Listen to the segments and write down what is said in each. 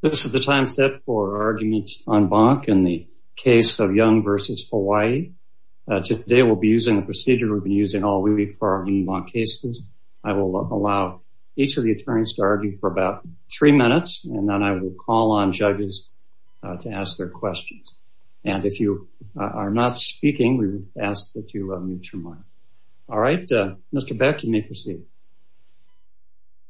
This is the time set for arguments on bonk in the case of Young v. Hawaii. Today we'll be using a procedure we've been using all week for our human bonk cases. I will allow each of the attorneys to argue for about three minutes, and then I will call on judges to ask their questions. And if you are not speaking, we ask that you mute your mic. All right, Mr. Beck, you may proceed.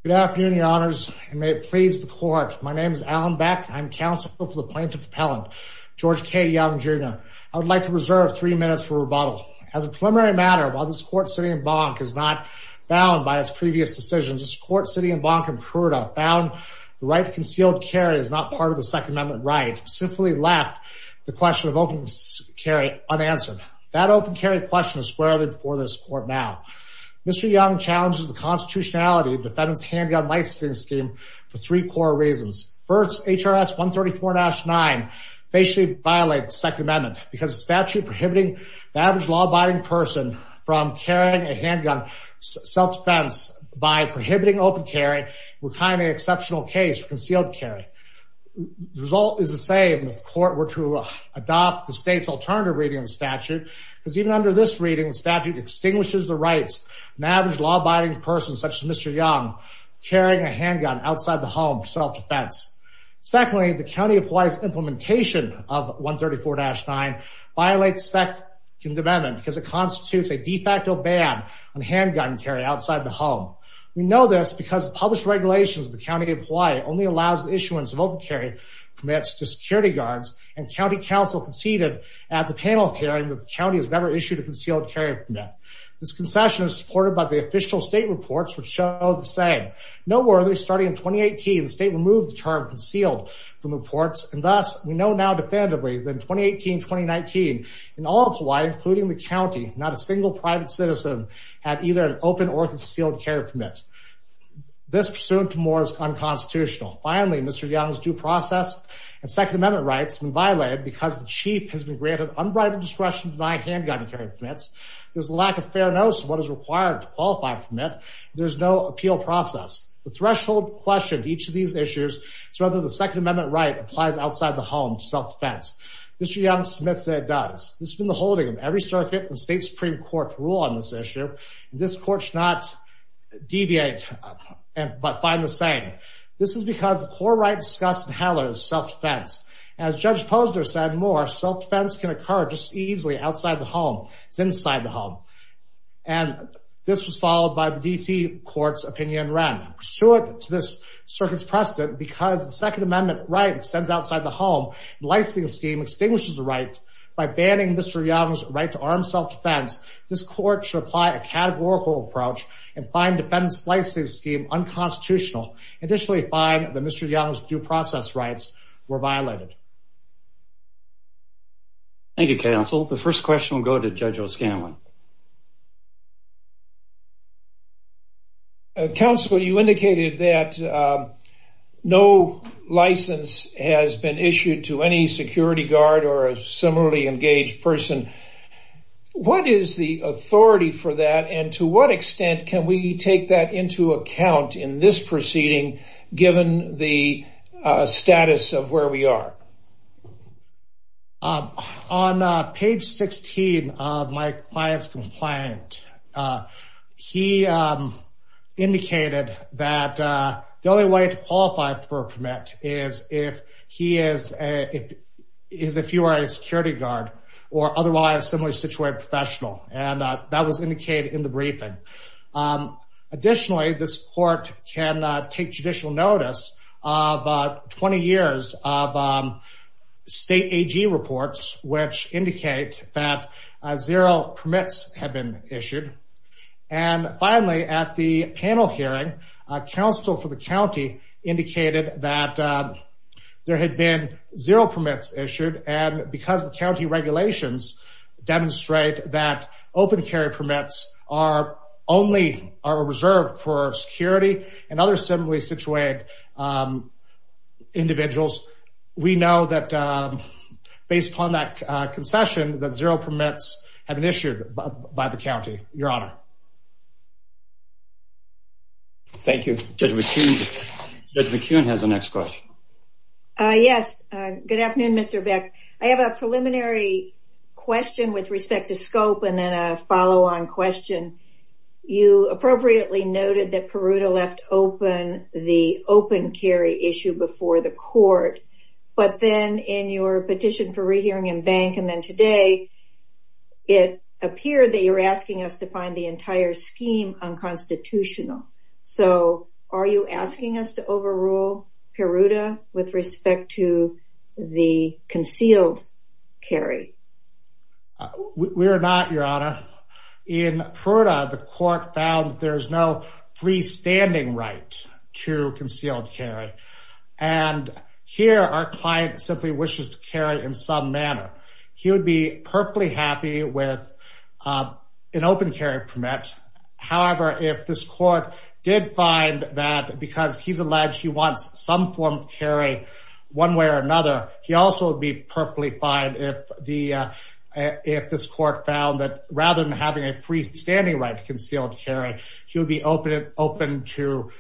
Good afternoon, your honors, and may it please the court. My name is Alan Beck. I'm counsel for the plaintiff appellant, George K. Young, Jr. I would like to reserve three minutes for rebuttal. As a preliminary matter, while this court sitting in bonk is not bound by its previous decisions, this court sitting in bonk in Pruda found the right to concealed carry is not part of the second amendment right, simply left the question of open carry unanswered. That open carry question is squarely before this court now. Mr. Young challenges the constitutionality of the defendant's handgun licensing scheme for three core reasons. First, HRS 134-9 basically violates the second amendment because statute prohibiting the average law abiding person from carrying a handgun self defense by prohibiting open carry would find an exceptional case for concealed carry. The result is the same if the court were to adopt the state's alternative reading of the statute, because even under this reading, the statute extinguishes the rights of an average law abiding person, such as Mr. Young, carrying a handgun outside the home for self-defense. Secondly, the County of Hawaii's implementation of 134-9 violates the second amendment because it constitutes a de facto ban on handgun carry outside the home. We know this because the published regulations of the County of Hawaii only allows the issuance of open carry permits to security guards and county counsel conceded at the panel hearing that the county has never issued a This concession is supported by the official state reports, which show the same. Noteworthy, starting in 2018, the state removed the term concealed from reports, and thus we know now defendably that in 2018-2019, in all of Hawaii, including the county, not a single private citizen had either an open or concealed carry permit. This pursuant to more is unconstitutional. Finally, Mr. Young's due process and second amendment rights have been violated because the chief has been granted unbridled discretion to deny handgun carry permits. There's a lack of fair notice of what is required to qualify for permit. There's no appeal process. The threshold questioned each of these issues is whether the second amendment right applies outside the home to self-defense. Mr. Young submits that it does. This has been the holding of every circuit and state supreme court rule on this issue. This court should not deviate, but find the same. This is because the core right discussed in HALA is self-defense. As Judge Posner said more, self-defense can occur just easily outside the home. It's inside the home. And this was followed by the DC court's opinion ran. Pursuant to this circuit's precedent, because the second amendment right extends outside the home, the licensing scheme extinguishes the right by banning Mr. Young's right to arm self-defense. This court should apply a categorical approach and find defense licensing scheme unconstitutional. Additionally, find that Mr. Young's due process rights were violated. Thank you, counsel. The first question will go to Judge O'Scanlan. Counsel, you indicated that no license has been issued to any security guard or a similarly engaged person. What is the authority for that? And to what extent can we take that into account in this proceeding, given the status of where we are? On page 16 of my client's complaint, he indicated that the only way to qualify for a permit is if he is a, if he is, if you are a security guard or otherwise similarly situated professional. And that was indicated in the briefing. Additionally, this court can take judicial notice of 20 years of state AG reports, which indicate that zero permits have been issued. And finally, at the panel hearing, a counsel for the county indicated that there had been zero permits issued. And because the county regulations demonstrate that open carry permits are only, are reserved for security and other similarly situated individuals. We know that based upon that concession, that zero permits have been issued by the county, your honor. Thank you. Judge McKeown has the next question. Yes. Good afternoon, Mr. Beck. I have a preliminary question with respect to scope and then a follow on question. You appropriately noted that Peruta left open the open carry issue before the court, but then in your petition for rehearing in bank, and then today, it appeared that you're asking us to find the entire scheme unconstitutional. So are you asking us to overrule Peruta with respect to the concealed carry? We're not, your honor. In Peruta, the court found that there's no freestanding right to concealed carry. And here our client simply wishes to carry in some manner. He would be perfectly happy with an open carry permit. However, if this court did find that because he's alleged he wants some form of carry one way or another, he also would be perfectly fine if the, if this court found that rather than having a freestanding right to concealed carry, he would be open to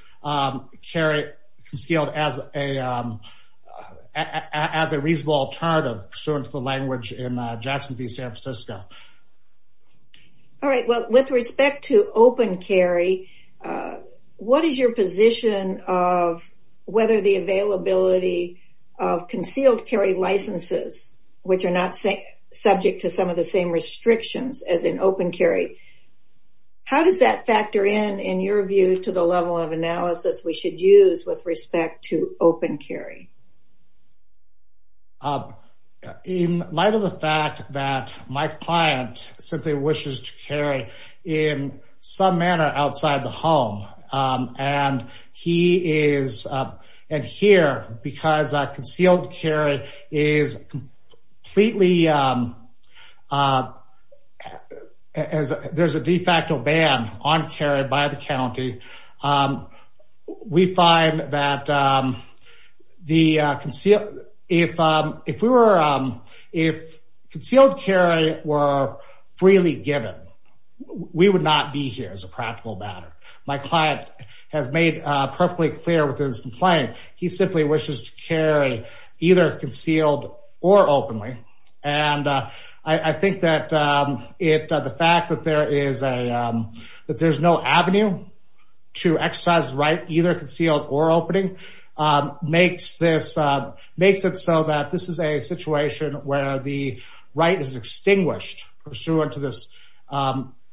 carry concealed as a reasonable alternative pursuant to the language in Jackson v. San Francisco. All right. Well, with respect to open carry, what is your position of whether the availability of concealed carry licenses, which are not subject to some of the same criteria as open carry, how does that factor in, in your view, to the level of analysis we should use with respect to open carry? In light of the fact that my client simply wishes to carry in some manner outside the home, and he is, and here, because concealed carry is completely a, as there's a de facto ban on carry by the county, we find that the, if, if we were, if concealed carry were freely given, we would not be here as a practical matter. My client has made perfectly clear with his complaint. He simply wishes to carry either concealed or openly. And I think that it, the fact that there is a, that there's no avenue to exercise right, either concealed or opening, makes this, makes it so that this is a situation where the right is extinguished pursuant to this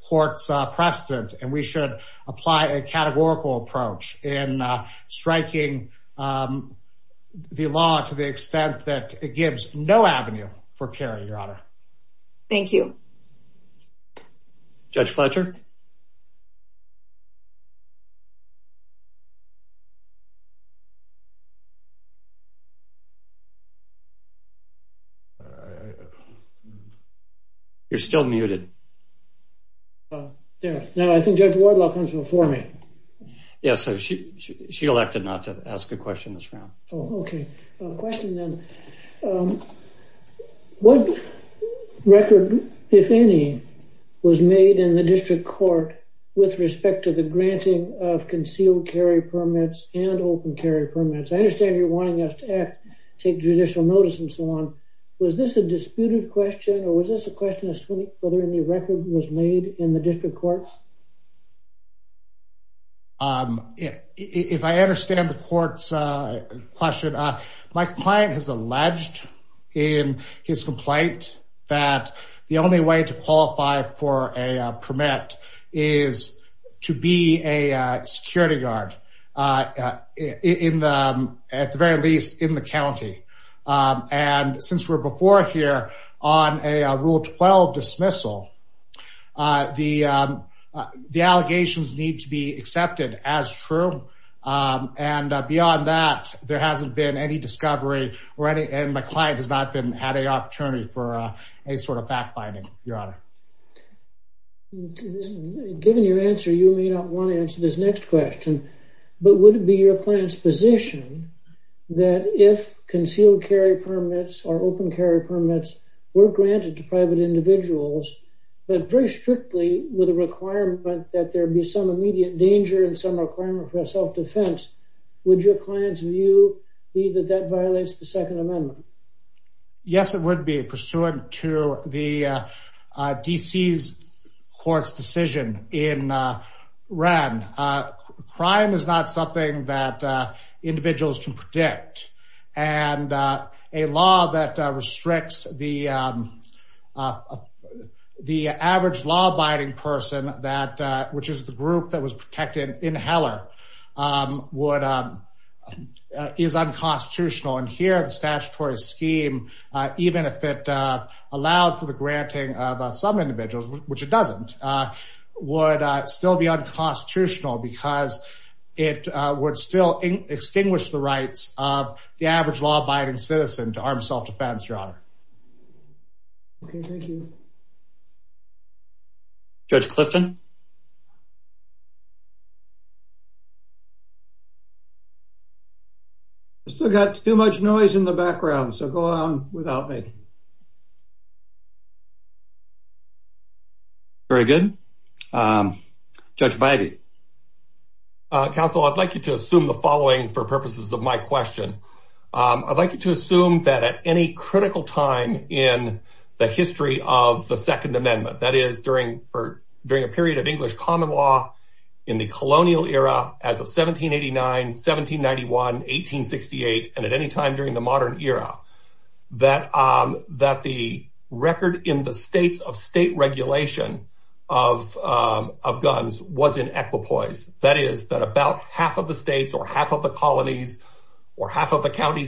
court's precedent. And we should apply a categorical approach in striking the law to the extent that it would be appropriate for, for, for, for, for carry, Your Honor. Thank you. Judge Fletcher. You're still muted. Oh, yeah. No, I think Judge Wardlock comes before me. Yeah, so she, she, she elected not to ask a question this round. Oh, okay. A question then, um, what record, if any, was made in the district court with respect to the granting of concealed carry permits and open carry permits? I understand you're wanting us to act, take judicial notice and so on. Was this a disputed question or was this a question as to whether any record was made in the district courts? Um, if, if I understand the court's question, my client has alleged in his complaint that the only way to qualify for a permit is to be a security guard. Uh, in the, at the very least in the county. Um, and since we're before here on a rule 12 dismissal, uh, the, um, the allegations need to be accepted as true. Um, and beyond that, there hasn't been any discovery or any, and my client has not been, had a opportunity for, uh, any sort of fact finding, Your Honor. Given your answer, you may not want to answer this next question, but would it be your client's position that if concealed carry permits or open carry permits were granted to private individuals, but very strictly with a requirement that there'd be some immediate danger and some requirement for a self-defense, would your client's view be that that violates the second amendment? Yes, it would be pursuant to the, uh, uh, DC's court's decision in, uh, RAN. Uh, crime is not something that, uh, individuals can predict and, uh, a law that restricts the, um, uh, the average law abiding person that, uh, which is the group that was protected in Heller, um, would, uh, is unconstitutional. And here the statutory scheme, uh, even if it, uh, allowed for the granting of some individuals, which it doesn't, uh, would still be unconstitutional because it would still extinguish the rights of the average law abiding citizen to arm self-defense, Your Honor. Okay. Thank you. Judge Clifton. Still got too much noise in the background. So go on without me. Very good. Um, Judge Biby. Uh, counsel, I'd like you to assume the following for purposes of my question. Um, I'd like you to assume that at any critical time in the history of the second amendment, that is during, or during a period of English common law in the colonial era, as of 1789, 1791, 1868, and at any time during the modern era, that, um, that the record in the states of state regulation of, um, of guns was in equipoise, that is that about half of the states or half of the counties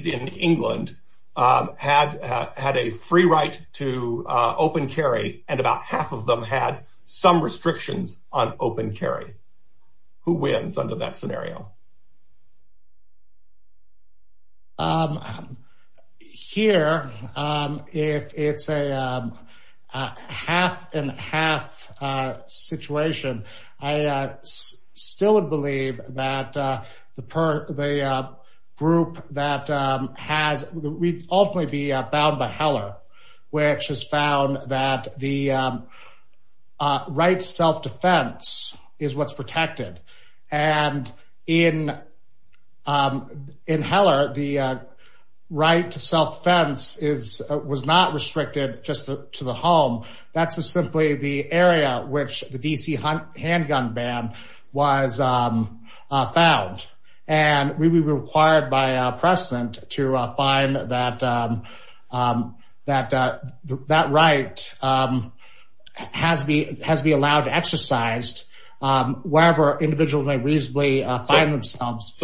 in England, um, had, uh, had a free right to, uh, open carry. And about half of them had some restrictions on open carry. Who wins under that scenario? Um, here, um, if it's a, um, uh, half and half, uh, situation, I, uh, still would believe that, uh, the per, the, uh, group that, um, has ultimately be bound by Heller, which has found that the, um, uh, right to self defense is what's protected. And in, um, in Heller, the, uh, right to self-defense is, uh, was not restricted just to the home. That's a simply the area which the DC handgun ban was, um, uh, found and we were required by precedent to find that, um, um, that, uh, that right, um, has be, has be allowed to exercised, um, wherever individuals may reasonably find themselves.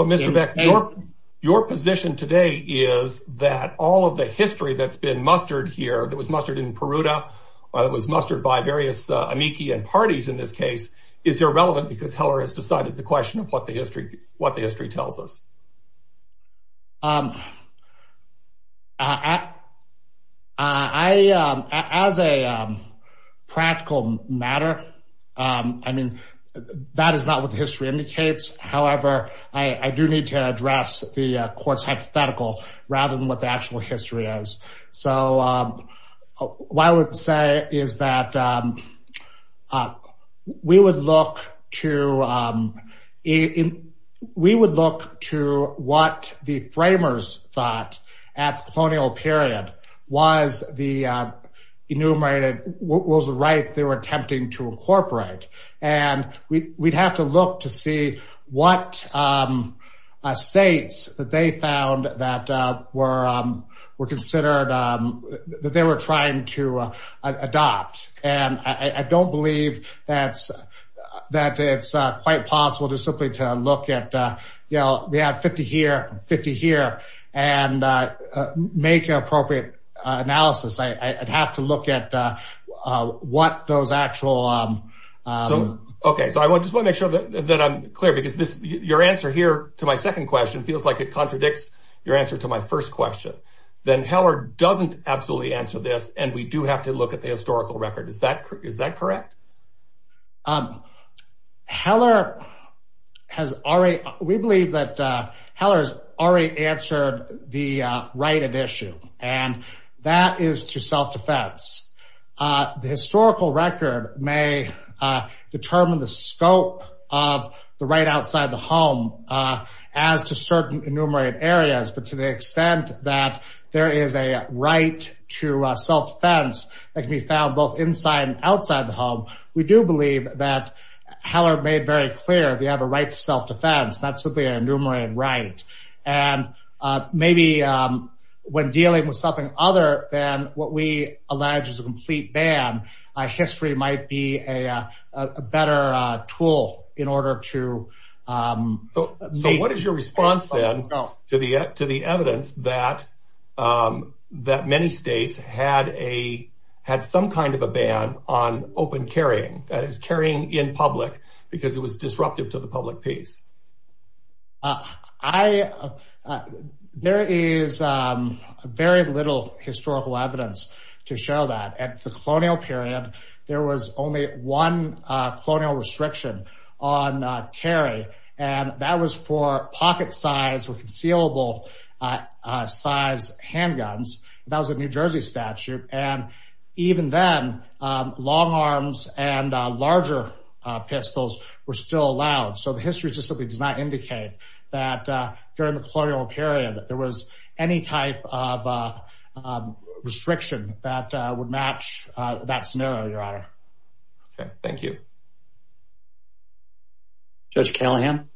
Your position today is that all of the history that's been mustered here, that was mustered in Peruta or that was mustered by various, uh, amici and parties in this case, is there relevant because Heller has decided the question of what the history, what the history tells us? Um, uh, I, um, as a, um, practical matter, um, I mean, that is not what the history indicates. However, I do need to address the court's hypothetical rather than what the actual history is. So, um, what I would say is that, um, uh, we would look to, um, in, we would look to what the framers thought at the colonial period was the, uh, enumerated what was the right they were attempting to incorporate, and we, we'd have to that they were trying to adopt. And I don't believe that's, that it's quite possible to simply to look at, uh, you know, we have 50 here, 50 here and, uh, uh, make an appropriate analysis. I, I'd have to look at, uh, uh, what those actual, um, um. Okay. So I want, just want to make sure that I'm clear because this, your answer here to my second question feels like it contradicts your answer to my first question, then Heller doesn't absolutely answer this. And we do have to look at the historical record. Is that, is that correct? Um, Heller has already, we believe that, uh, Heller's already answered the, uh, right at issue. And that is to self-defense. Uh, the historical record may, uh, determine the scope of the right outside the home, uh, as to certain enumerated areas, but to the that there is a right to self-defense that can be found both inside and outside the home, we do believe that Heller made very clear they have a right to self-defense, that's simply an enumerated right. And, uh, maybe, um, when dealing with something other than what we allege is a complete ban, uh, history might be a, uh, a better, uh, tool in order to, um, So what is your response then to the, to the evidence that, um, that many states had a, had some kind of a ban on open carrying that is carrying in public because it was disruptive to the public piece. Uh, I, uh, there is, um, very little historical evidence to show that at the colonial period, there was only one, uh, colonial restriction on, uh, carry. And that was for pocket size or concealable, uh, uh, size handguns. That was a New Jersey statute. And even then, um, long arms and larger pistols were still allowed. So the history just simply does not indicate that, uh, during the colonial period, there was any type of, uh, restriction that would match that scenario, your honor. Okay, thank you. Judge Callahan.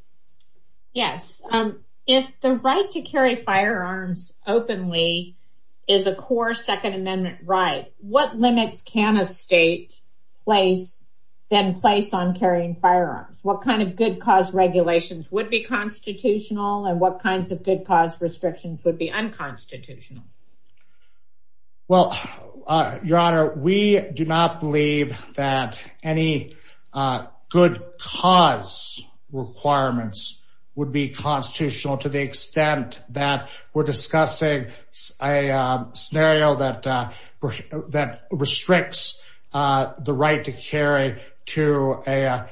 Yes. Um, if the right to carry firearms openly is a core second amendment right, what limits can a state place, then place on carrying firearms? What kind of good cause regulations would be constitutional and what kinds of good cause restrictions would be unconstitutional? Well, uh, your honor, we do not believe that any, uh, unconstitutional good cause requirements would be constitutional to the extent that we're discussing a scenario that, uh, that restricts, uh, the right to carry to a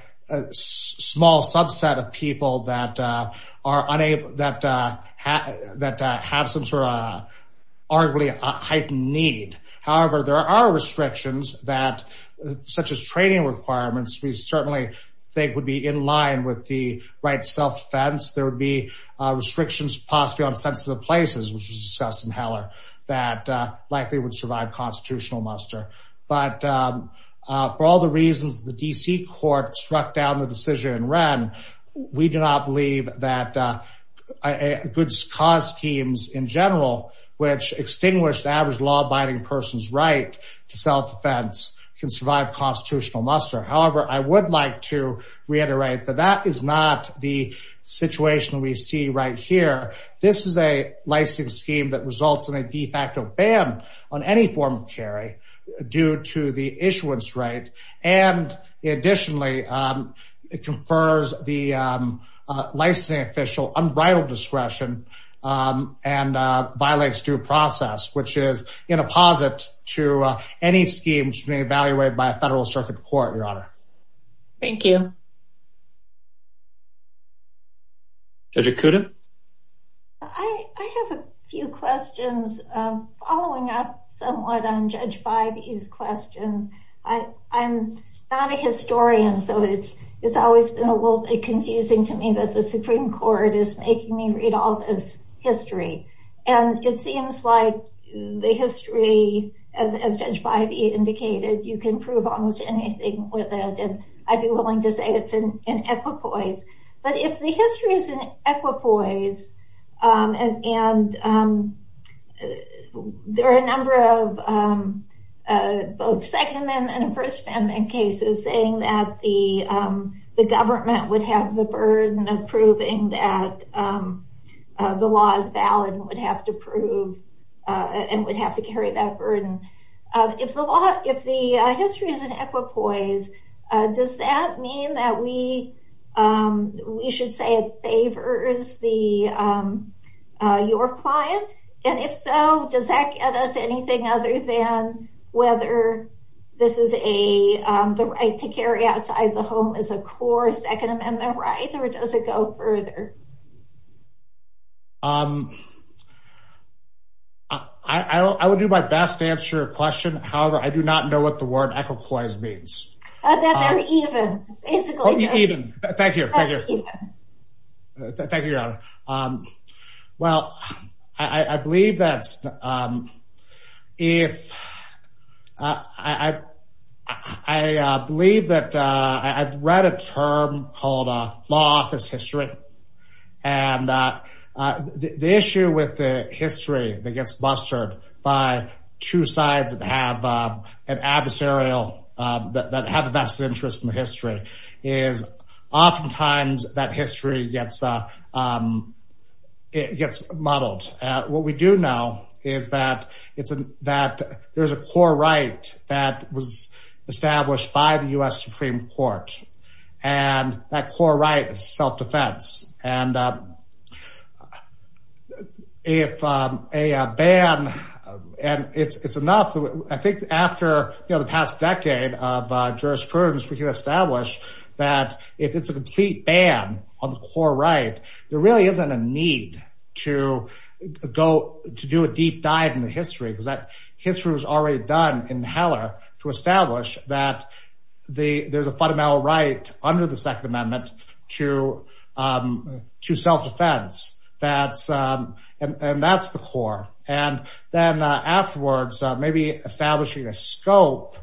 small subset of people that, uh, are unable, that, uh, that, uh, have some sort of arguably heightened need. However, there are restrictions that, such as training requirements. We certainly think would be in line with the right self-defense. There would be, uh, restrictions possibly on census of places, which was discussed in Heller that, uh, likely would survive constitutional muster. But, um, uh, for all the reasons the DC court struck down the decision in Wren, we do not believe that, uh, good cause teams in general, which extinguish the average law abiding person's right to self-defense can survive constitutional muster. However, I would like to reiterate that that is not the situation that we see right here. This is a licensing scheme that results in a de facto ban on any form of carry due to the issuance right. And additionally, um, it confers the, um, uh, licensing official unbridled discretion, um, and, uh, violates due process, which is in a posit to any schemes being evaluated by a federal circuit court, your honor. Thank you. Judge Okuda. I have a few questions, um, following up somewhat on Judge Bivey's questions. I, I'm not a historian. So it's, it's always been a little bit confusing to me that the Supreme Court is making me read all this history. And it seems like the history as, as Judge Bivey indicated, you can prove almost anything with it. And I'd be willing to say it's an equipoise, but if the history is an equipoise, um, and, and, um, there are a number of, um, uh, both second amendment and first amendment cases saying that the, um, the government would have the burden of proving that, um, uh, the law is valid and would have to prove, uh, and would have to carry that burden of if the law, if the history is an equipoise, uh, does that mean that we, um, we should say it favors the, um, uh, your client? And if so, does that get us anything other than whether this is a, um, the right to carry outside the home is a core second amendment, right? Or does it go further? Um, I, I, I would do my best to answer your question. However, I do not know what the word equipoise means. Uh, that they're even, basically. Oh, even. Thank you. Thank you. Thank you, Your Honor. Um, well, I, I believe that, um, if, uh, I, I, I, uh, believe that, uh, I've read a term called, uh, law office history and, uh, uh, the issue with the history that gets mustered by two sides that have, uh, an adversarial, uh, that have a vested interest in the history is oftentimes that history gets, uh, um, gets muddled at what we do now is that it's an, that there's a core right that was established by the U.S. Supreme Court and that core right is self-defense. And, uh, if, um, a, a ban and it's, it's enough, I think after, you know, the past decade of, uh, jurisprudence, we can establish that if it's a complete ban on the core right, there really isn't a need to go, to do a deep dive in the history because that history was already done in Heller to establish that the, there's a fundamental right under the second amendment to, um, to self-defense that's, um, and, and that's the core. And then, uh, afterwards, uh, maybe establishing a scope,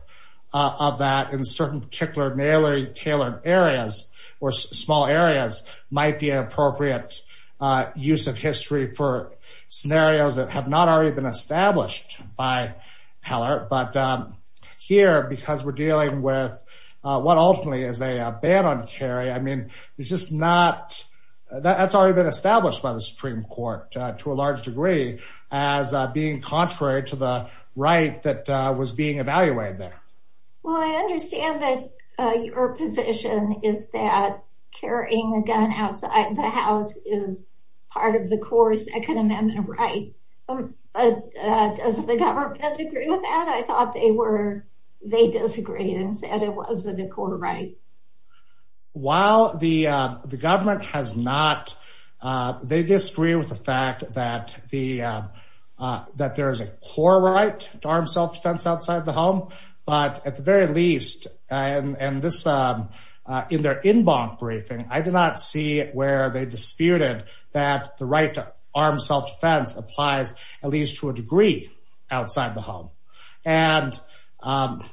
uh, of that in certain particular narrowly tailored areas or small areas might be an appropriate, uh, use of history for scenarios that have not already been established by Heller. But, um, here, because we're dealing with, uh, what ultimately is a ban on carry, I mean, it's just not, that's already been established by the Supreme Court, uh, to a large degree as, uh, being contrary to the right that, uh, was being evaluated there. Well, I understand that, uh, your position is that carrying a gun outside the house is part of the core second amendment right. Um, uh, uh, does the government agree with that? I thought they were, they disagreed and said it wasn't a core right. While the, uh, the government has not, uh, they disagree with the fact that the, uh, that there is a core right to arm self-defense outside the home, but at the very least, uh, and, and this, um, uh, in their in bonk briefing, I did not see where they disputed that the right to arm self-defense applies at least to a degree outside the home. And, um,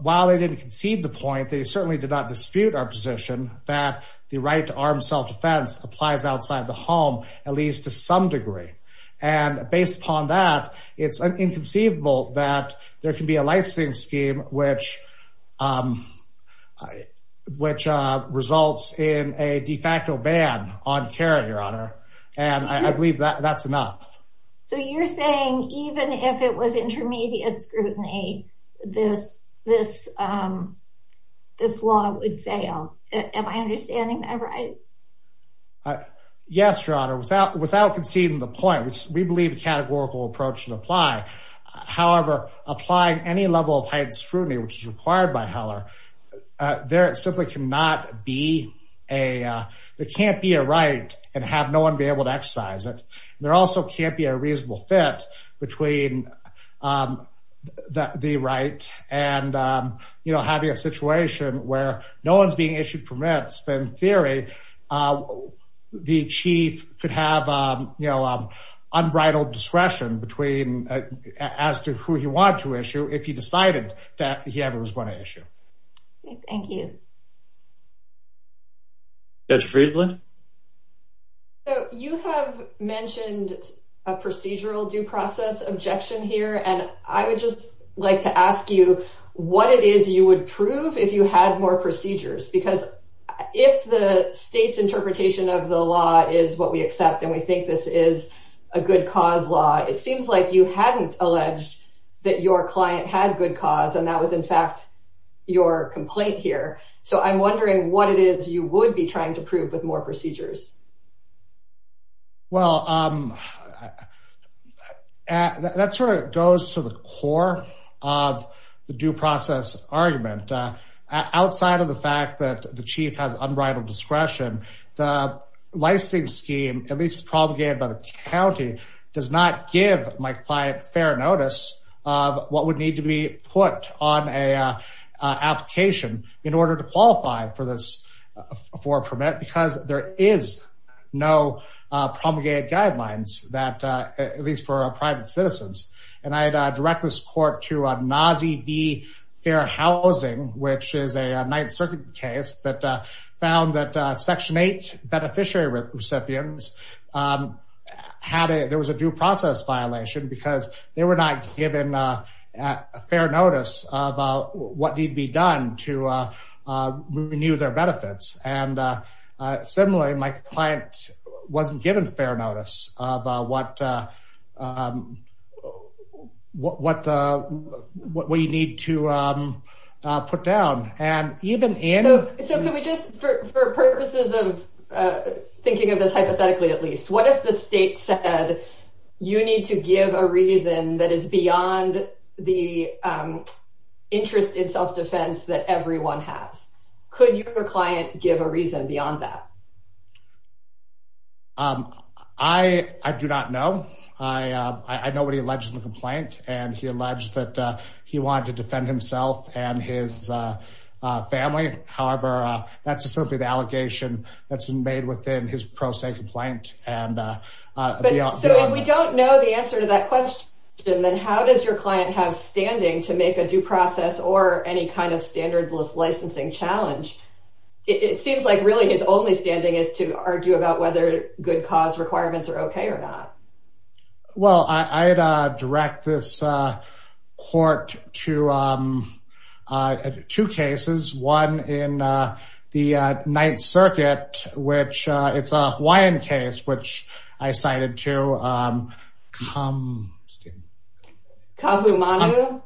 while they didn't concede the point, they certainly did not dispute our position that the right to arm self-defense applies outside the home, at least to some degree. And based upon that, it's inconceivable that there can be a licensing scheme, which, um, which, uh, results in a de facto ban on carrying your honor. And I believe that that's enough. So you're saying, even if it was intermediate scrutiny, this, this, um, this law would fail. Am I understanding that right? Uh, yes, Your Honor, without, without conceding the point, which we believe the categorical approach should apply. However, applying any level of heightened scrutiny, which is required by Heller, uh, there simply cannot be a, uh, there can't be a right and have no one be able to exercise it. There also can't be a reasonable fit between, um, the right and, um, you know, having a situation where no one's being issued permits, but in theory, uh, the chief could have, um, you know, um, unbridled discretion between, uh, as to who he wanted to issue, if he decided that he ever was going to issue. Thank you. Judge Friedland? So you have mentioned a procedural due process objection here, and I would just like to ask you what it is you would prove if you had more procedures? Because if the state's interpretation of the law is what we accept, and we think this is a good cause law, it seems like you hadn't alleged that your client had good cause, and that was in fact, your complaint here. So I'm wondering what it is you would be trying to prove with more procedures. Well, um, that sort of goes to the core of the due process argument. Uh, outside of the fact that the chief has unbridled discretion, the licensing scheme, at least promulgated by the county, does not give my client fair notice of what would need to be put on a, uh, application in order to qualify for this, for a permit, because there is no promulgated guidelines that, uh, at least for our private citizens. And I had to direct this court to, uh, NAWSI v. Fair Housing, which is a ninth circuit case that, uh, found that, uh, section eight beneficiary recipients, um, had a, there was a due process violation because they were not given, uh, fair notice of, uh, what need be done to, uh, uh, renew their benefits. And, uh, uh, similarly, my client wasn't given fair notice of, uh, what, uh, um, what, what, uh, what we need to, um, uh, put down and even in... So, so can we just, for purposes of, uh, thinking of this hypothetically, at least, what if the state said you need to give a reason that is beyond the, um, interest in self-defense that everyone has? Could your client give a reason beyond that? Um, I, I do not know. I, uh, I know what he alleged in the complaint and he alleged that, uh, he wanted to defend himself and his, uh, uh, family. However, uh, that's just simply the allegation that's been made within his pro se complaint and, uh, uh, beyond that. So if we don't know the answer to that question, then how does your client have or any kind of standardless licensing challenge? It seems like really his only standing is to argue about whether good cause requirements are okay or not. Well, I, I had, uh, direct this, uh, court to, um, uh, two cases, one in, uh, the, uh, Ninth Circuit, which, uh, it's a Hawaiian case, which I cited to, um, come, excuse me. Kahumanu?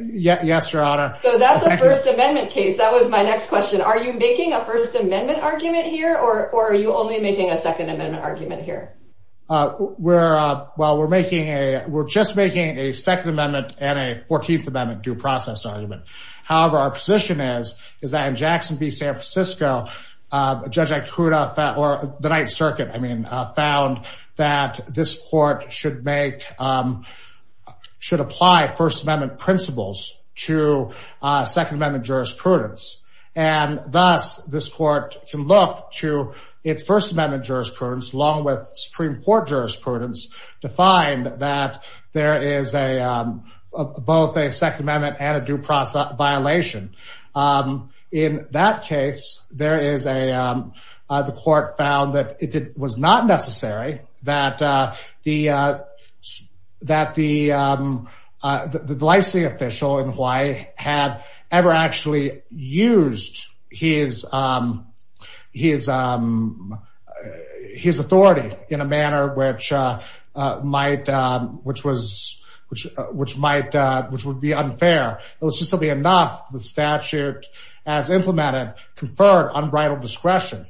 Yeah. Yes, Your Honor. So that's a First Amendment case. That was my next question. Are you making a First Amendment argument here or, or are you only making a Second Amendment argument here? Uh, we're, uh, well, we're making a, we're just making a Second Amendment and a 14th Amendment due process argument. However, our position is, is that in Jackson v. San Francisco, uh, Judge Ikuda found, or the Ninth Circuit, I mean, uh, found that this court should make, um, should apply First Amendment principles to, uh, Second Amendment jurisprudence. And thus this court can look to its First Amendment jurisprudence along with Supreme Court jurisprudence to find that there is a, um, both a Second Amendment and a due process violation. Um, in that case, there is a, um, uh, the court found that it was not necessary that, uh, the, uh, that the, um, uh, the, the licensing official in Hawaii had ever actually used his, um, his, um, his authority in a manner which, uh, uh, might, um, which was, which, uh, which might, uh, which would be unfair. It was just simply enough the statute as implemented conferred unbridled discretion,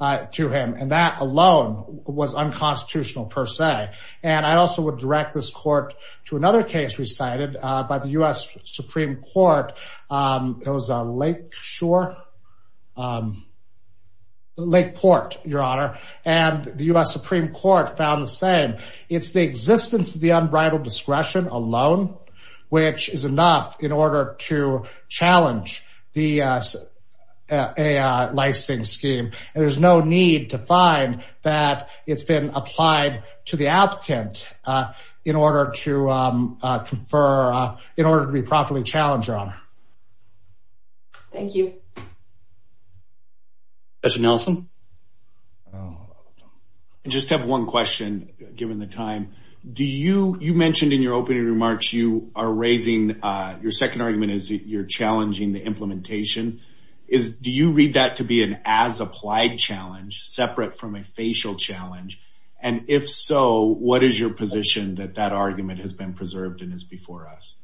uh, to him. And that alone was unconstitutional per se. And I also would direct this court to another case recited, uh, by the U.S. Supreme Court, um, it was, uh, Lake Shore, um, Lake Port, Your Honor, and the U.S. Supreme Court found the same. It's the existence of the unbridled discretion alone, which is enough in order to challenge the, uh, uh, a, uh, licensing scheme, and there's no need to find that it's been applied to the applicant, uh, in order to, um, uh, confer, uh, in order to be properly challenged, Your Honor. Thank you. Judge Nelson. I just have one question given the time. Do you, you mentioned in your opening remarks, you are raising, uh, your second argument is you're challenging the implementation is, do you read that to be an as applied challenge separate from a facial challenge? And if so, what is your position that that argument has been preserved and is before us?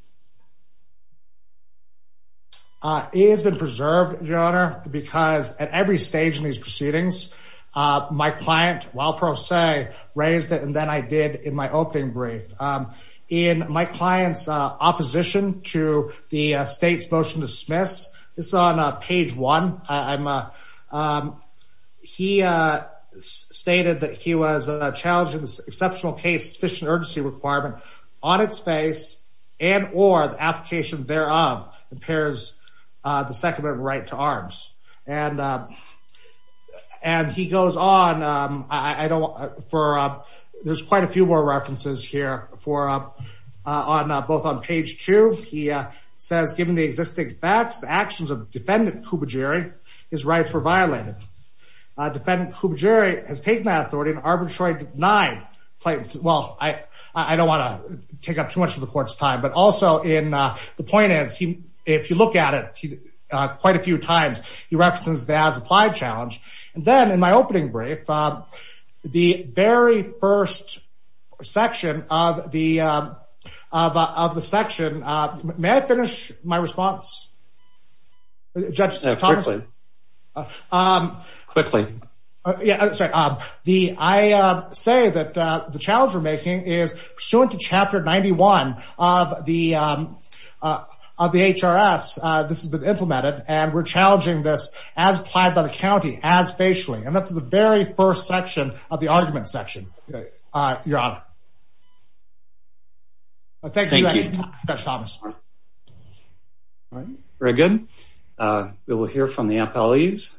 Uh, it has been preserved, Your Honor, because at every stage in these proceedings, uh, my client, while pro se, raised it and then I did in my opening brief, um, in my client's, uh, opposition to the state's motion to dismiss this on page one, I'm, uh, um, he, uh, stated that he was a challenge in this exceptional case, sufficient urgency requirement on its face and, or the application thereof impairs, uh, the second amendment right to arms. And, uh, and he goes on, um, I don't, for, uh, there's quite a few more references here for, uh, uh, on, uh, both on page two, he, uh, says given the existing facts, the actions of defendant Kouboujeri, his rights were violated, uh, defendant Kouboujeri has taken that authority and arbitrarily denied, well, I, I don't want to take up too much of the court's time, but also in, uh, the point is he, if you look at it, uh, quite a few times, he references the as applied challenge and then in my opening brief, uh, the very first section of the, uh, of, uh, of the section, uh, may I finish my response? Judge Thomas. Uh, um, quickly. Uh, yeah, sorry. Um, the, I, uh, say that, uh, the challenge we're making is pursuant to chapter 91 of the, um, uh, of the HRS. Uh, this has been implemented and we're challenging this as applied by the County as facially. And that's the very first section of the argument section. Uh, you're on. Thank you, Judge Thomas. All right, very good. Uh, we will hear from the employees.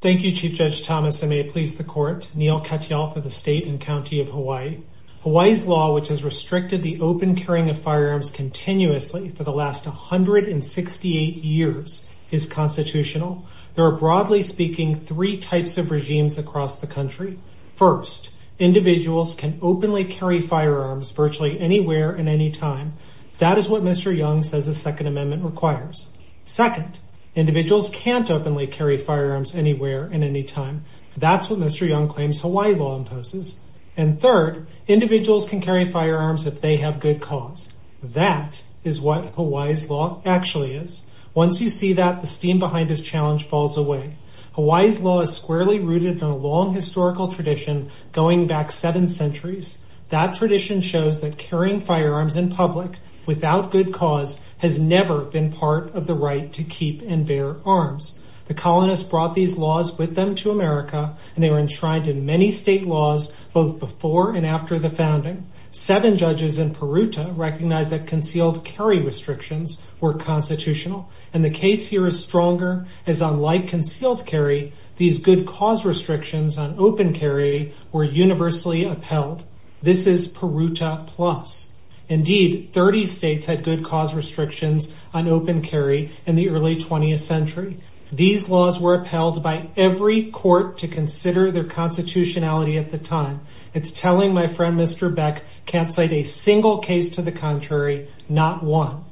Thank you, Chief Judge Thomas. And may it please the court, Neal Katyal for the state and County of Hawaii. Hawaii's law, which has restricted the open carrying of firearms continuously for the last 168 years is constitutional. There are broadly speaking, three types of regimes across the country. First, individuals can openly carry firearms virtually anywhere and anytime. That is what Mr. Young says the second amendment requires. Second, individuals can't openly carry firearms anywhere and anytime. That's what Mr. Young claims Hawaii law imposes. And third, individuals can carry firearms if they have good cause. That is what Hawaii's law actually is. Once you see that the steam behind this challenge falls away. Hawaii's law is squarely rooted in a long historical tradition going back seven centuries. That tradition shows that carrying firearms in public without good cause has never been part of the right to keep and bear arms. The colonists brought these laws with them to America and they were enshrined in many state laws, both before and after the founding. Seven judges in Peruta recognized that concealed carry restrictions were constitutional. And the case here is stronger as unlike concealed carry, these good cause restrictions on open carry were universally upheld. This is Peruta plus. Indeed, 30 states had good cause restrictions on open carry in the early 20th century. These laws were upheld by every court to consider their constitutionality at the time. It's telling my friend, Mr. Beck, can't cite a single case to the contrary, not one.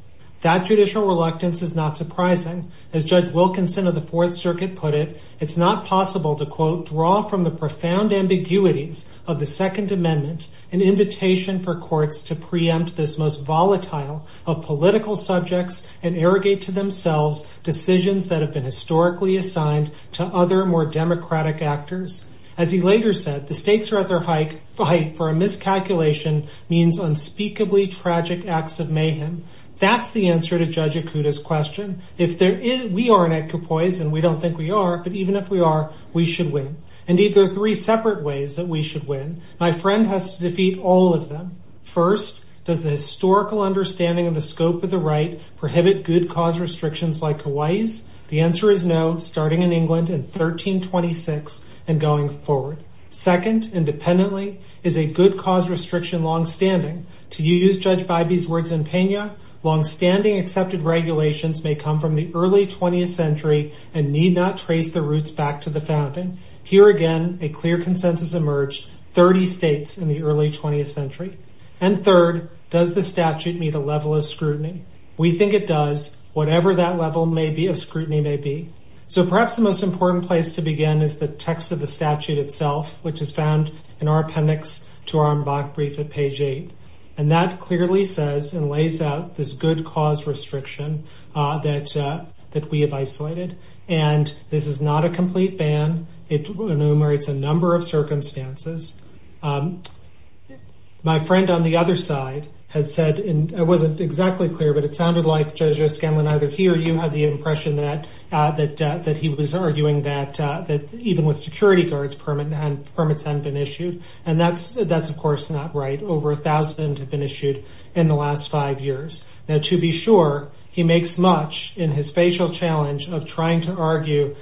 That judicial reluctance is not surprising. As Judge Wilkinson of the fourth circuit put it, it's not possible to quote, draw from the profound ambiguities of the second amendment, an invitation for courts to preempt this most volatile of political subjects and irrigate to themselves decisions that have been historically assigned to other more democratic actors. As he later said, the states are at their height for a miscalculation means unspeakably tragic acts of mayhem. That's the answer to Judge Akuta's question. If there is, we aren't at Kapoiz and we don't think we are, but even if we are, we should win. Indeed, there are three separate ways that we should win. My friend has to defeat all of them. First, does the historical understanding of the scope of the right prohibit good cause restrictions like Hawaii's? The answer is no, starting in England in 1326 and going forward. Second, independently, is a good cause restriction longstanding? To use Judge Bybee's words in Pena, longstanding accepted regulations may come from the early 20th century and need not trace the roots back to the founding. Here again, a clear consensus emerged, 30 states in the early 20th century. And third, does the statute meet a level of scrutiny? We think it does, whatever that level may be, of scrutiny may be. So perhaps the most important place to begin is the text of the statute itself, which is found in our appendix to our MBAC brief at page eight. And that clearly says and lays out this good cause restriction that we have isolated. And this is not a complete ban. It enumerates a number of circumstances. My friend on the other side has said, and I wasn't exactly clear, but it sounded like Judge O'Scanlan, either he or you had the impression that he was arguing that even with security guards, permits hadn't been issued. And that's, of course, not right. Over a thousand have been issued in the last five years. Now, to be sure, he makes much in his facial challenge of trying to argue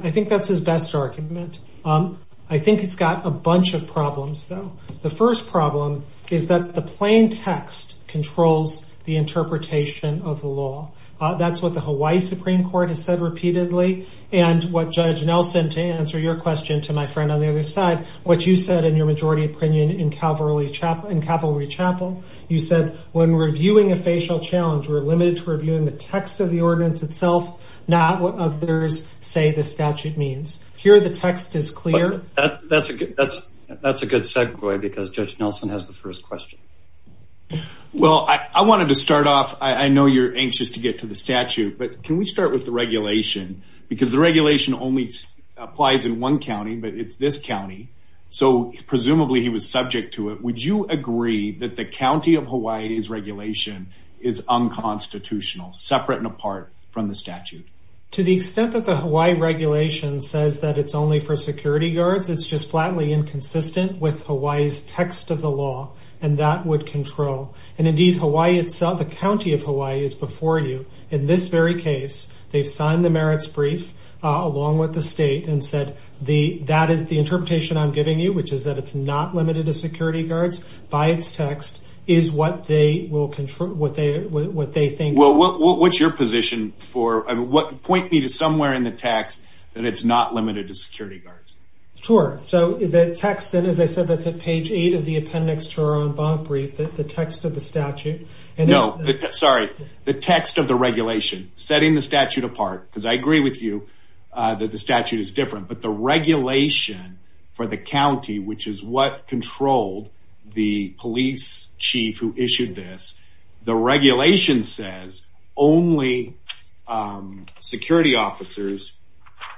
I think that's his best argument. I think it's got a bunch of problems though. The first problem is that the plain text controls the interpretation of the law. That's what the Hawaii Supreme Court has said repeatedly. And what Judge Nelson, to answer your question to my friend on the other side, what you said in your majority opinion in Cavalry Chapel, you said when reviewing a facial challenge, we're limited to reviewing the text of the statute, which means here, the text is clear. That's a good segue because Judge Nelson has the first question. Well, I wanted to start off. I know you're anxious to get to the statute, but can we start with the regulation because the regulation only applies in one county, but it's this county, so presumably he was subject to it. Would you agree that the County of Hawaii's regulation is unconstitutional, separate and apart from the statute? To the extent that the Hawaii regulation says that it's only for security guards, it's just flatly inconsistent with Hawaii's text of the law and that would control, and indeed Hawaii itself, the County of Hawaii is before you. In this very case, they've signed the merits brief along with the state and said, that is the interpretation I'm giving you, which is that it's not limited to security guards by its text is what they think. Well, what's your position for, point me to somewhere in the text that it's not limited to security guards. Sure. So the text, and as I said, that's at page eight of the appendix to our own bond brief, that the text of the statute. No, sorry. The text of the regulation, setting the statute apart, because I agree with you that the statute is different, but the regulation for the county, which is what only security officers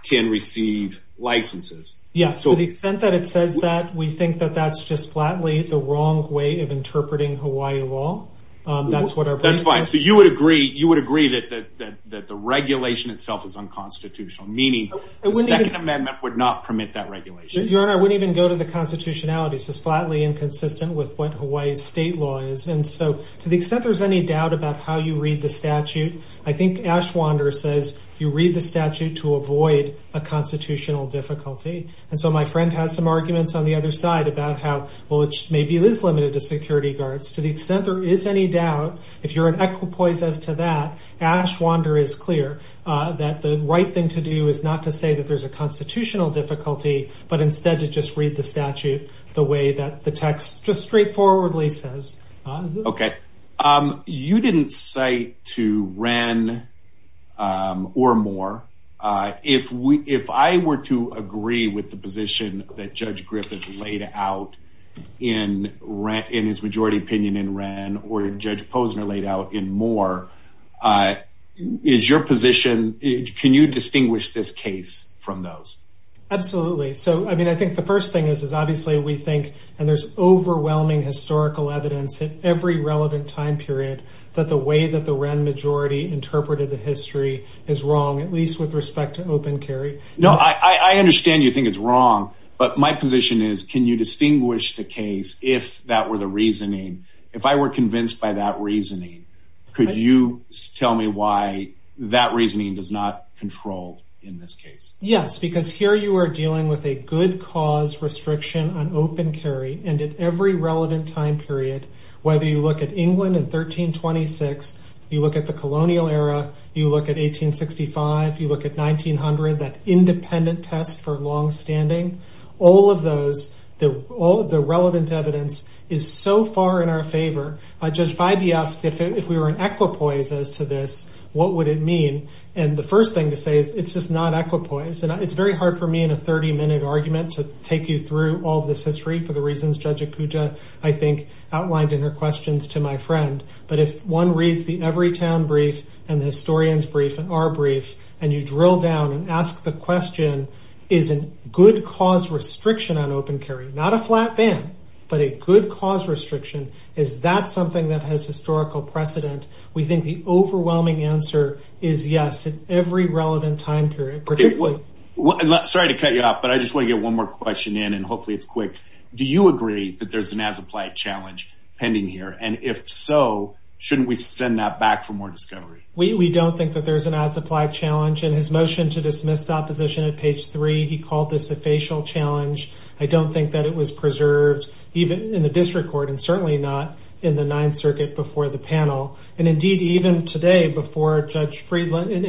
can receive licenses. Yeah. So the extent that it says that we think that that's just flatly the wrong way of interpreting Hawaii law. That's what our, that's fine. So you would agree, you would agree that, that, that, that the regulation itself is unconstitutional, meaning the second amendment would not permit that regulation. Your Honor, I wouldn't even go to the constitutionality. It's just flatly inconsistent with what Hawaii's state law is. And so to the extent there's any doubt about how you read the statute, I think Ashwander says you read the statute to avoid a constitutional difficulty. And so my friend has some arguments on the other side about how, well, it maybe is limited to security guards. To the extent there is any doubt, if you're an equipoise as to that, Ashwander is clear that the right thing to do is not to say that there's a constitutional difficulty, but instead to just read the statute the way that the text just Okay. You didn't cite to Wren or Moore. If we, if I were to agree with the position that Judge Griffith laid out in Wren, in his majority opinion in Wren or Judge Posner laid out in Moore, is your position, can you distinguish this case from those? Absolutely. So, I mean, I think the first thing is, is obviously we think, and there's overwhelming historical evidence at every relevant time period, that the way that the Wren majority interpreted the history is wrong, at least with respect to open carry. No, I understand you think it's wrong, but my position is, can you distinguish the case if that were the reasoning, if I were convinced by that reasoning, could you tell me why that reasoning does not control in this case? Yes, because here you are dealing with a good cause restriction on open carry. And at every relevant time period, whether you look at England in 1326, you look at the colonial era, you look at 1865, you look at 1900, that independent test for longstanding, all of those, all the relevant evidence is so far in our favor. Judge Bybee asked if we were in equipoise as to this, what would it mean? And the first thing to say is it's just not equipoise. And it's very hard for me in a 30 minute argument to take you through all of this since Judge Okuja, I think, outlined in her questions to my friend. But if one reads the Everytown brief and the Historian's brief and our brief, and you drill down and ask the question, is a good cause restriction on open carry, not a flat ban, but a good cause restriction, is that something that has historical precedent? We think the overwhelming answer is yes, at every relevant time period. Sorry to cut you off, but I just want to get one more question in and hopefully it's quick. Do you agree that there's an as-applied challenge pending here? And if so, shouldn't we send that back for more discovery? We don't think that there's an as-applied challenge. In his motion to dismiss opposition at page three, he called this a facial challenge. I don't think that it was preserved even in the district court and certainly not in the Ninth Circuit before the panel. And indeed, even today before Judge Friedland, in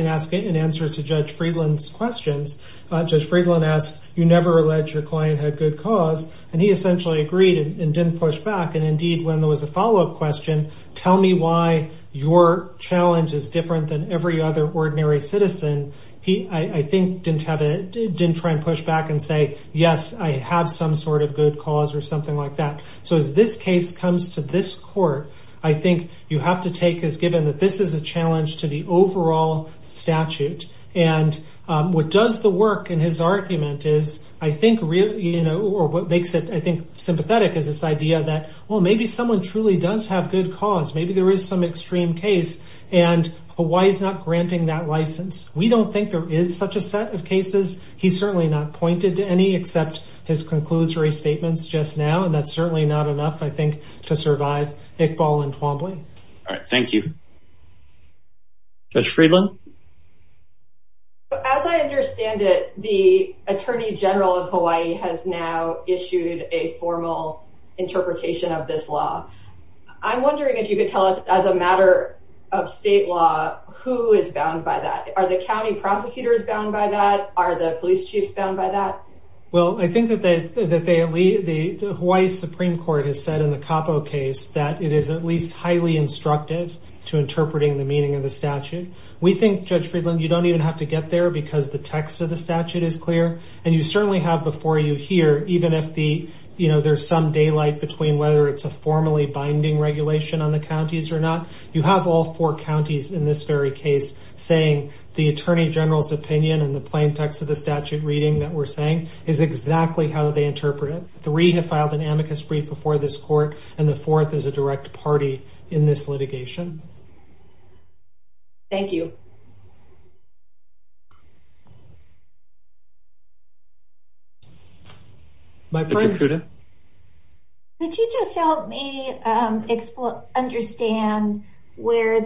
answer to Judge Friedland's questions, Judge Friedland asked, you never alleged your client had good cause, and he essentially agreed and didn't push back. And indeed, when there was a follow-up question, tell me why your challenge is different than every other ordinary citizen, he, I think, didn't try and push back and say, yes, I have some sort of good cause or something like that. So as this case comes to this court, I think you have to take as given that this is a challenge to the overall statute. And what does the work in his argument is, I think, really, you know, or what makes it, I think, sympathetic is this idea that, well, maybe someone truly does have good cause, maybe there is some extreme case, and Hawaii's not granting that license. We don't think there is such a set of cases. He's certainly not pointed to any except his conclusory statements just now. And that's certainly not enough, I think, to survive Iqbal and Twombly. All right. Thank you. Judge Friedland? As I understand it, the Attorney General of Hawaii has now issued a formal interpretation of this law. I'm wondering if you could tell us, as a matter of state law, who is bound by that? Are the county prosecutors bound by that? Are the police chiefs bound by that? Well, I think that the Hawaii Supreme Court has said in the Capo case that it is at least highly instructive to interpreting the meaning of the statute. We think, Judge Friedland, you don't even have to get there because the text of the statute is clear. And you certainly have before you here, even if there's some daylight between whether it's a formally binding regulation on the counties or not, you have all four counties in this very case saying the Attorney General's opinion and the plain text of the statute reading that we're saying is exactly how they interpret it. Three have filed an amicus brief before this court, and the fourth is a direct party in this litigation. Thank you. Judge Akuda? Could you just help me understand where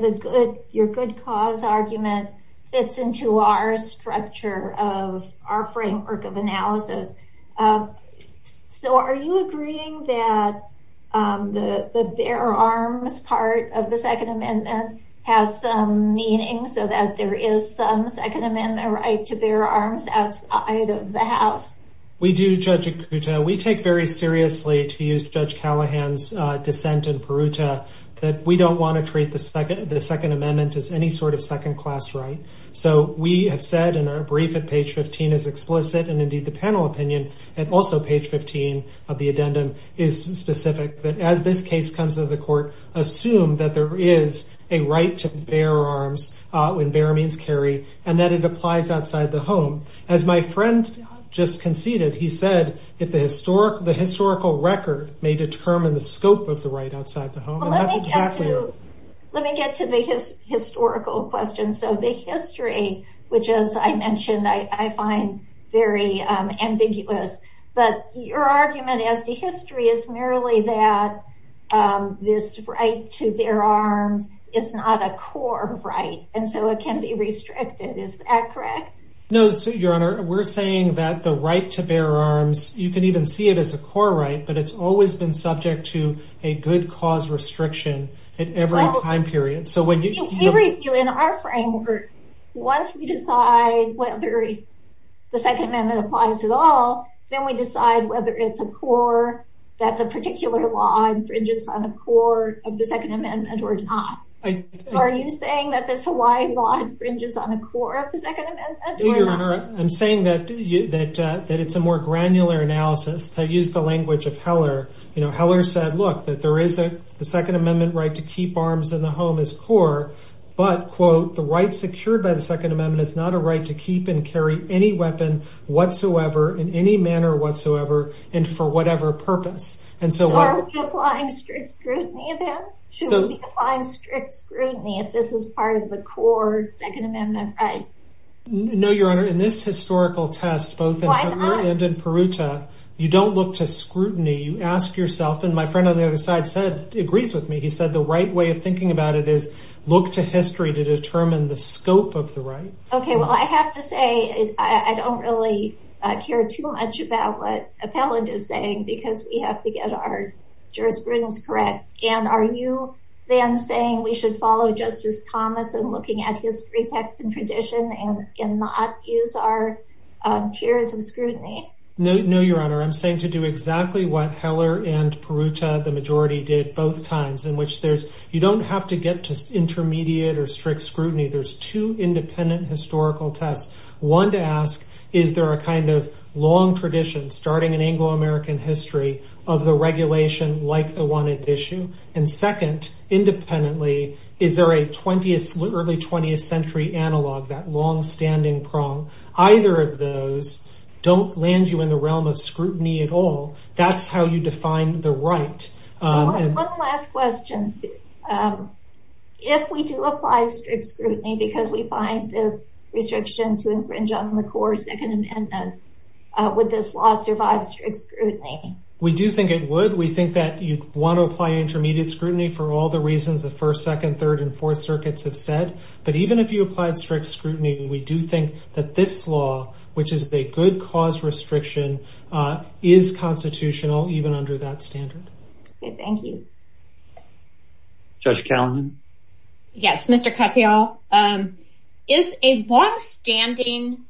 your good cause argument fits into our structure of our framework of analysis? So are you agreeing that the bear arms part of the Second Amendment has some meaning so that there is some Second Amendment right to bear arms outside of the House? We do, Judge Akuda. We take very seriously, to use Judge Callahan's dissent in Peruta, that we don't want to treat the Second Amendment as any sort of second class right. So we have said in our brief at page 15 is explicit, and indeed the panel opinion and also page 15 of the addendum is specific, that as this case comes to the court, assume that there is a right to bear arms, when bear means carry, and that it applies outside the home. As my friend just conceded, he said, if the historical record may determine the scope of the right outside the home. Let me get to the historical questions. So the history, which as I mentioned, I find very ambiguous, but your argument as the history is merely that this right to bear arms is not a core right, and so it can be restricted. Is that correct? No, Your Honor. We're saying that the right to bear arms, you can even see it as a core right, but it's always been subject to a good cause restriction at every time period. We review in our framework, once we decide whether the Second Amendment applies at all, then we decide whether it's a core that the particular law infringes on a core of the Second Amendment or not. Are you saying that this Hawaii law infringes on a core of the Second Amendment or not? I'm saying that it's a more granular analysis to use the language of Heller. You know, Heller said, look, that there is a Second Amendment right to keep arms in the home is core, but, quote, the right secured by the Second Amendment is not a right to keep and carry any weapon whatsoever in any manner whatsoever and for whatever purpose. And so why should we be applying strict scrutiny if this is part of the core Second Amendment right? No, Your Honor. In this historical test, both in Heller and in Peruta, you don't look to scrutiny. You ask yourself, and my friend on the other side agrees with me. He said the right way of thinking about it is look to history to determine the scope of the right. OK, well, I have to say I don't really care too much about what Appellant is saying because we have to get our jurisprudence correct. And are you then saying we should follow Justice Thomas and looking at history, text and tradition and not use our tiers of scrutiny? No, Your Honor. I'm saying to do exactly what Heller and Peruta, the majority, did both times in which there's you don't have to get to intermediate or strict scrutiny. There's two independent historical tests. One to ask, is there a kind of long tradition starting in Anglo-American history of the regulation like the one at issue? And second, independently, is there a 20th, early 20th century analog, that longstanding prong? Either of those don't land you in the realm of scrutiny at all. That's how you define the right. One last question. If we do apply strict scrutiny because we find this restriction to infringe on the core Second Amendment, would this law survive strict scrutiny? We do think it would. We think that you'd want to apply intermediate scrutiny for all the reasons the First, Second, Third and Fourth Circuits have said. But even if you applied strict scrutiny, we do think that this law, which is a good cause restriction, is constitutional even under that standard. Thank you. Judge Callahan? Yes, Mr. Cattell. Is a longstanding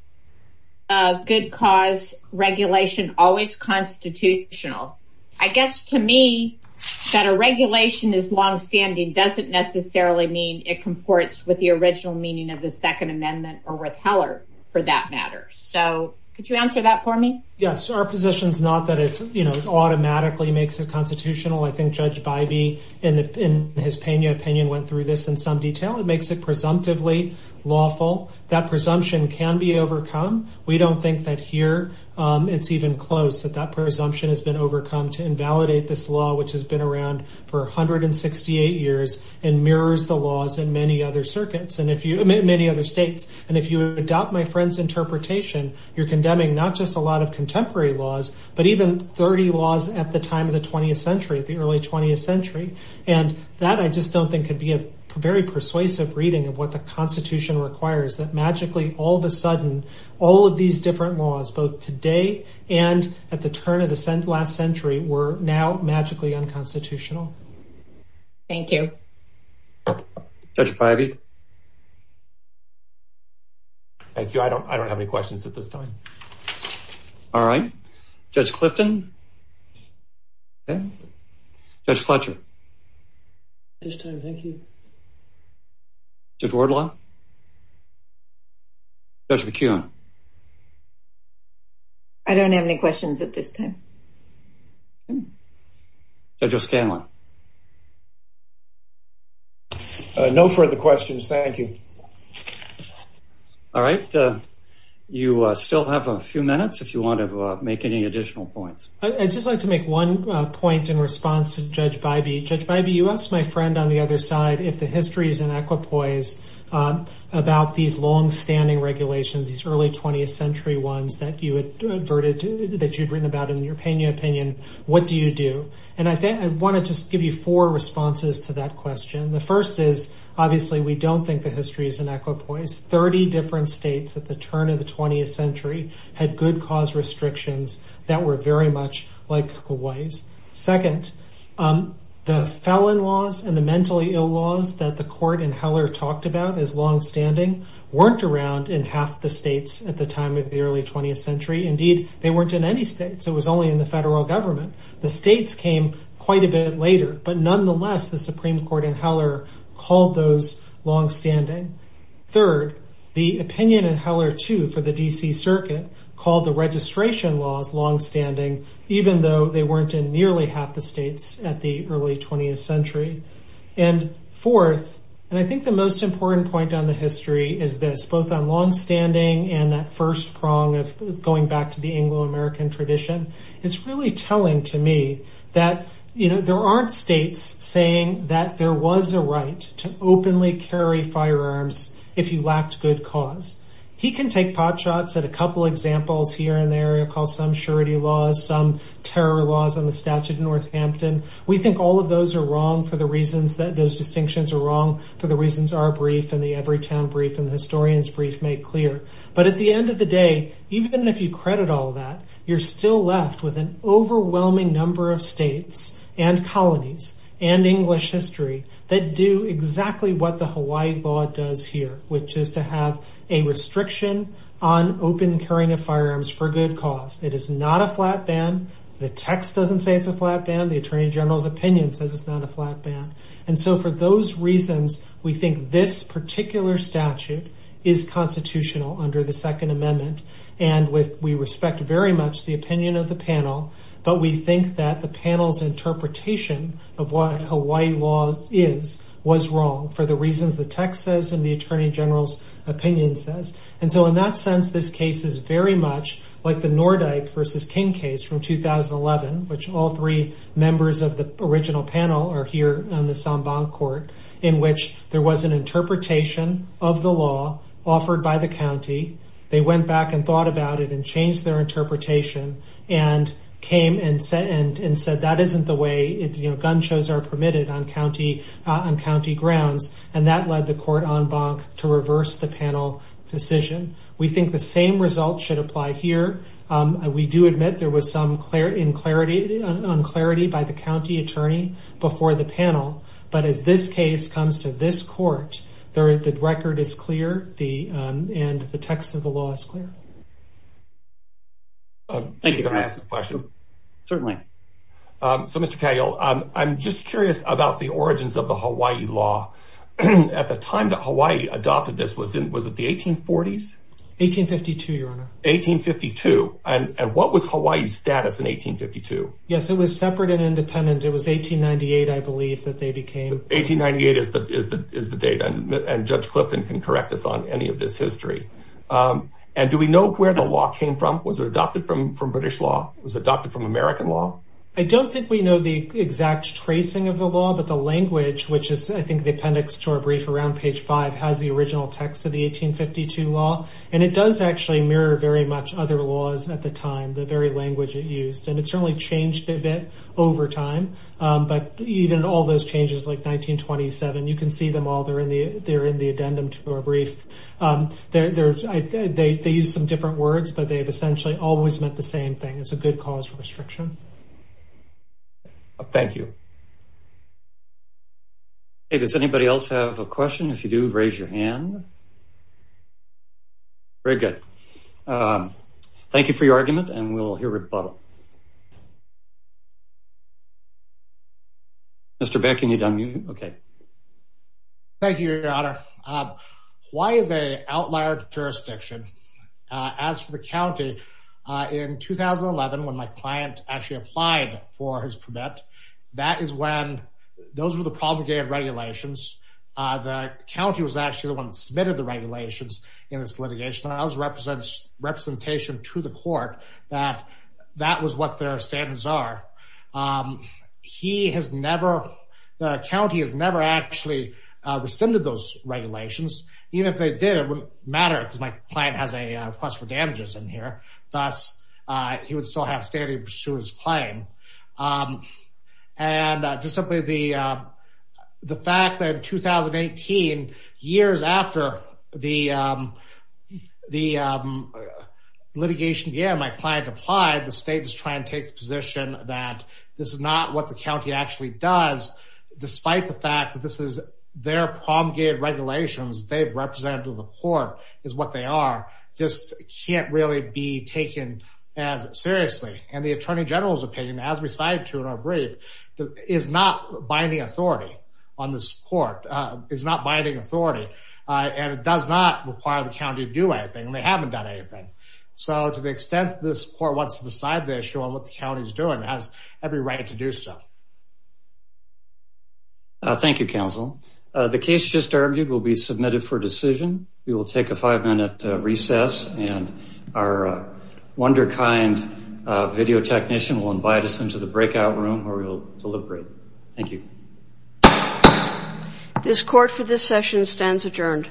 good cause regulation always constitutional? I guess to me that a regulation is longstanding doesn't necessarily mean it comports with the original meaning of the Second Amendment or with Heller for that matter. So could you answer that for me? Yes, our position is not that it automatically makes it constitutional. I think Judge Bybee, in his Pena opinion, went through this in some detail. It makes it presumptively lawful. That presumption can be overcome. We don't think that here it's even close, that that presumption has been overcome to invalidate this law, which has been around for 168 years and mirrors the laws in many other circuits, in many other states. And if you adopt my friend's interpretation, you're condemning not just a lot of contemporary laws, but even 30 laws at the time of the 20th century, at the early 20th century. And that I just don't think could be a very persuasive reading of what the Constitution requires. That magically, all of a sudden, all of these different laws, both today and at the turn of the last century, were now magically unconstitutional. Thank you. Judge Bybee? Thank you. I don't I don't have any questions at this time. All right. Judge Clifton? Judge Fletcher? At this time, thank you. Judge Wardlaw? Judge McKeown? I don't have any questions at this time. Judge O'Scanlan? No further questions, thank you. All right. You still have a few minutes if you want to make any additional points. I'd just like to make one point in response to Judge Bybee. Judge Bybee, you asked my friend on the other side, if the history is in equipoise about these longstanding regulations, these early 20th century ones that you adverted that you'd written about in your opinion, what do you do? And I want to just give you four responses to that question. The first is, obviously, we don't think the history is in equipoise. 30 different states at the turn of the 20th century had good cause restrictions that were very much like Hawaii's. Second, the felon laws and the mentally ill laws that the court in Heller talked about as longstanding weren't around in half the states at the time of the early 20th century. Indeed, they weren't in any states. It was only in the federal government. The states came quite a bit later. But nonetheless, the Supreme Court in Heller called those longstanding. Third, the opinion in Heller, too, for the D.C. Circuit called the registration laws longstanding, even though they weren't in nearly half the states at the early 20th century. And fourth, and I think the most important point on the history is this, both on longstanding and that first prong of going back to the Anglo-American tradition, it's really telling to me that, you know, there aren't states saying that there was a right to openly carry firearms if you lacked good cause. He can take potshots at a couple examples here in the area called some surety laws, some terror laws on the Statute of Northampton. We think all of those are wrong for the reasons that those distinctions are wrong, for the reasons our brief and the Everytown brief and the historian's brief make clear. But at the end of the day, even if you credit all that, you're still left with an exactly what the Hawaii law does here, which is to have a restriction on open carrying of firearms for good cause. It is not a flat ban. The text doesn't say it's a flat ban. The attorney general's opinion says it's not a flat ban. And so for those reasons, we think this particular statute is constitutional under the But we think that the panel's interpretation of what Hawaii law is, was wrong for the reasons the text says and the attorney general's opinion says. And so in that sense, this case is very much like the Nordyke versus King case from 2011, which all three members of the original panel are here on the Samban Court, in which there was an interpretation of the law offered by the county. They went back and thought about it and changed their interpretation. And came and said that isn't the way gun shows are permitted on county grounds. And that led the court en banc to reverse the panel decision. We think the same result should apply here. We do admit there was some unclarity by the county attorney before the panel. But as this case comes to this court, the record is clear and the text of the law is clear. Thank you. Can I ask a question? Certainly. So, Mr. Cagle, I'm just curious about the origins of the Hawaii law. At the time that Hawaii adopted this, was it the 1840s? 1852, your honor. 1852. And what was Hawaii's status in 1852? Yes, it was separate and independent. It was 1898, I believe, that they became. 1898 is the date. And Judge Clifton can correct us on any of this history. And do we know where the law came from? Was it adopted from British law? Was it adopted from American law? I don't think we know the exact tracing of the law, but the language, which is, I think, the appendix to our brief around page five, has the original text of the 1852 law. And it does actually mirror very much other laws at the time, the very language it used. And it certainly changed a bit over time. But even all those changes, like 1927, you can see them all. They're in the addendum to our brief. They use some different words, but they have essentially always meant the same thing. It's a good cause for restriction. Thank you. Hey, does anybody else have a question? If you do, raise your hand. Very good. Thank you for your argument and we'll hear rebuttal. OK. Thank you, your honor. Hawaii is an outlier jurisdiction. As for the county, in 2011, when my client actually applied for his permit, that is when those were the promulgated regulations. The county was actually the one that submitted the regulations in this litigation. And I was representing representation to the court that that was what their standards are. He has never, the county has never actually rescinded those regulations, even if they did, it wouldn't matter because my client has a request for damages in here. Thus, he would still have standards to pursue his claim. And just simply the fact that in 2018, years after the litigation, my client applied, the state is trying to take the position that this is not what the county actually does, despite the fact that this is their promulgated regulations, they've represented to the court is what they are, just can't really be taken as seriously. And the attorney general's opinion, as we cited to in our brief, is not binding authority on this court, is not binding authority. And it does not require the county to do anything and they haven't done anything. So to the extent this court wants to decide the issue on what the county is doing, it has every right to do so. Thank you, counsel. The case just argued will be submitted for decision. We will take a five minute recess and our wonder kind video technician will invite us into the breakout room where we will deliberate. Thank you. This court for this session stands adjourned.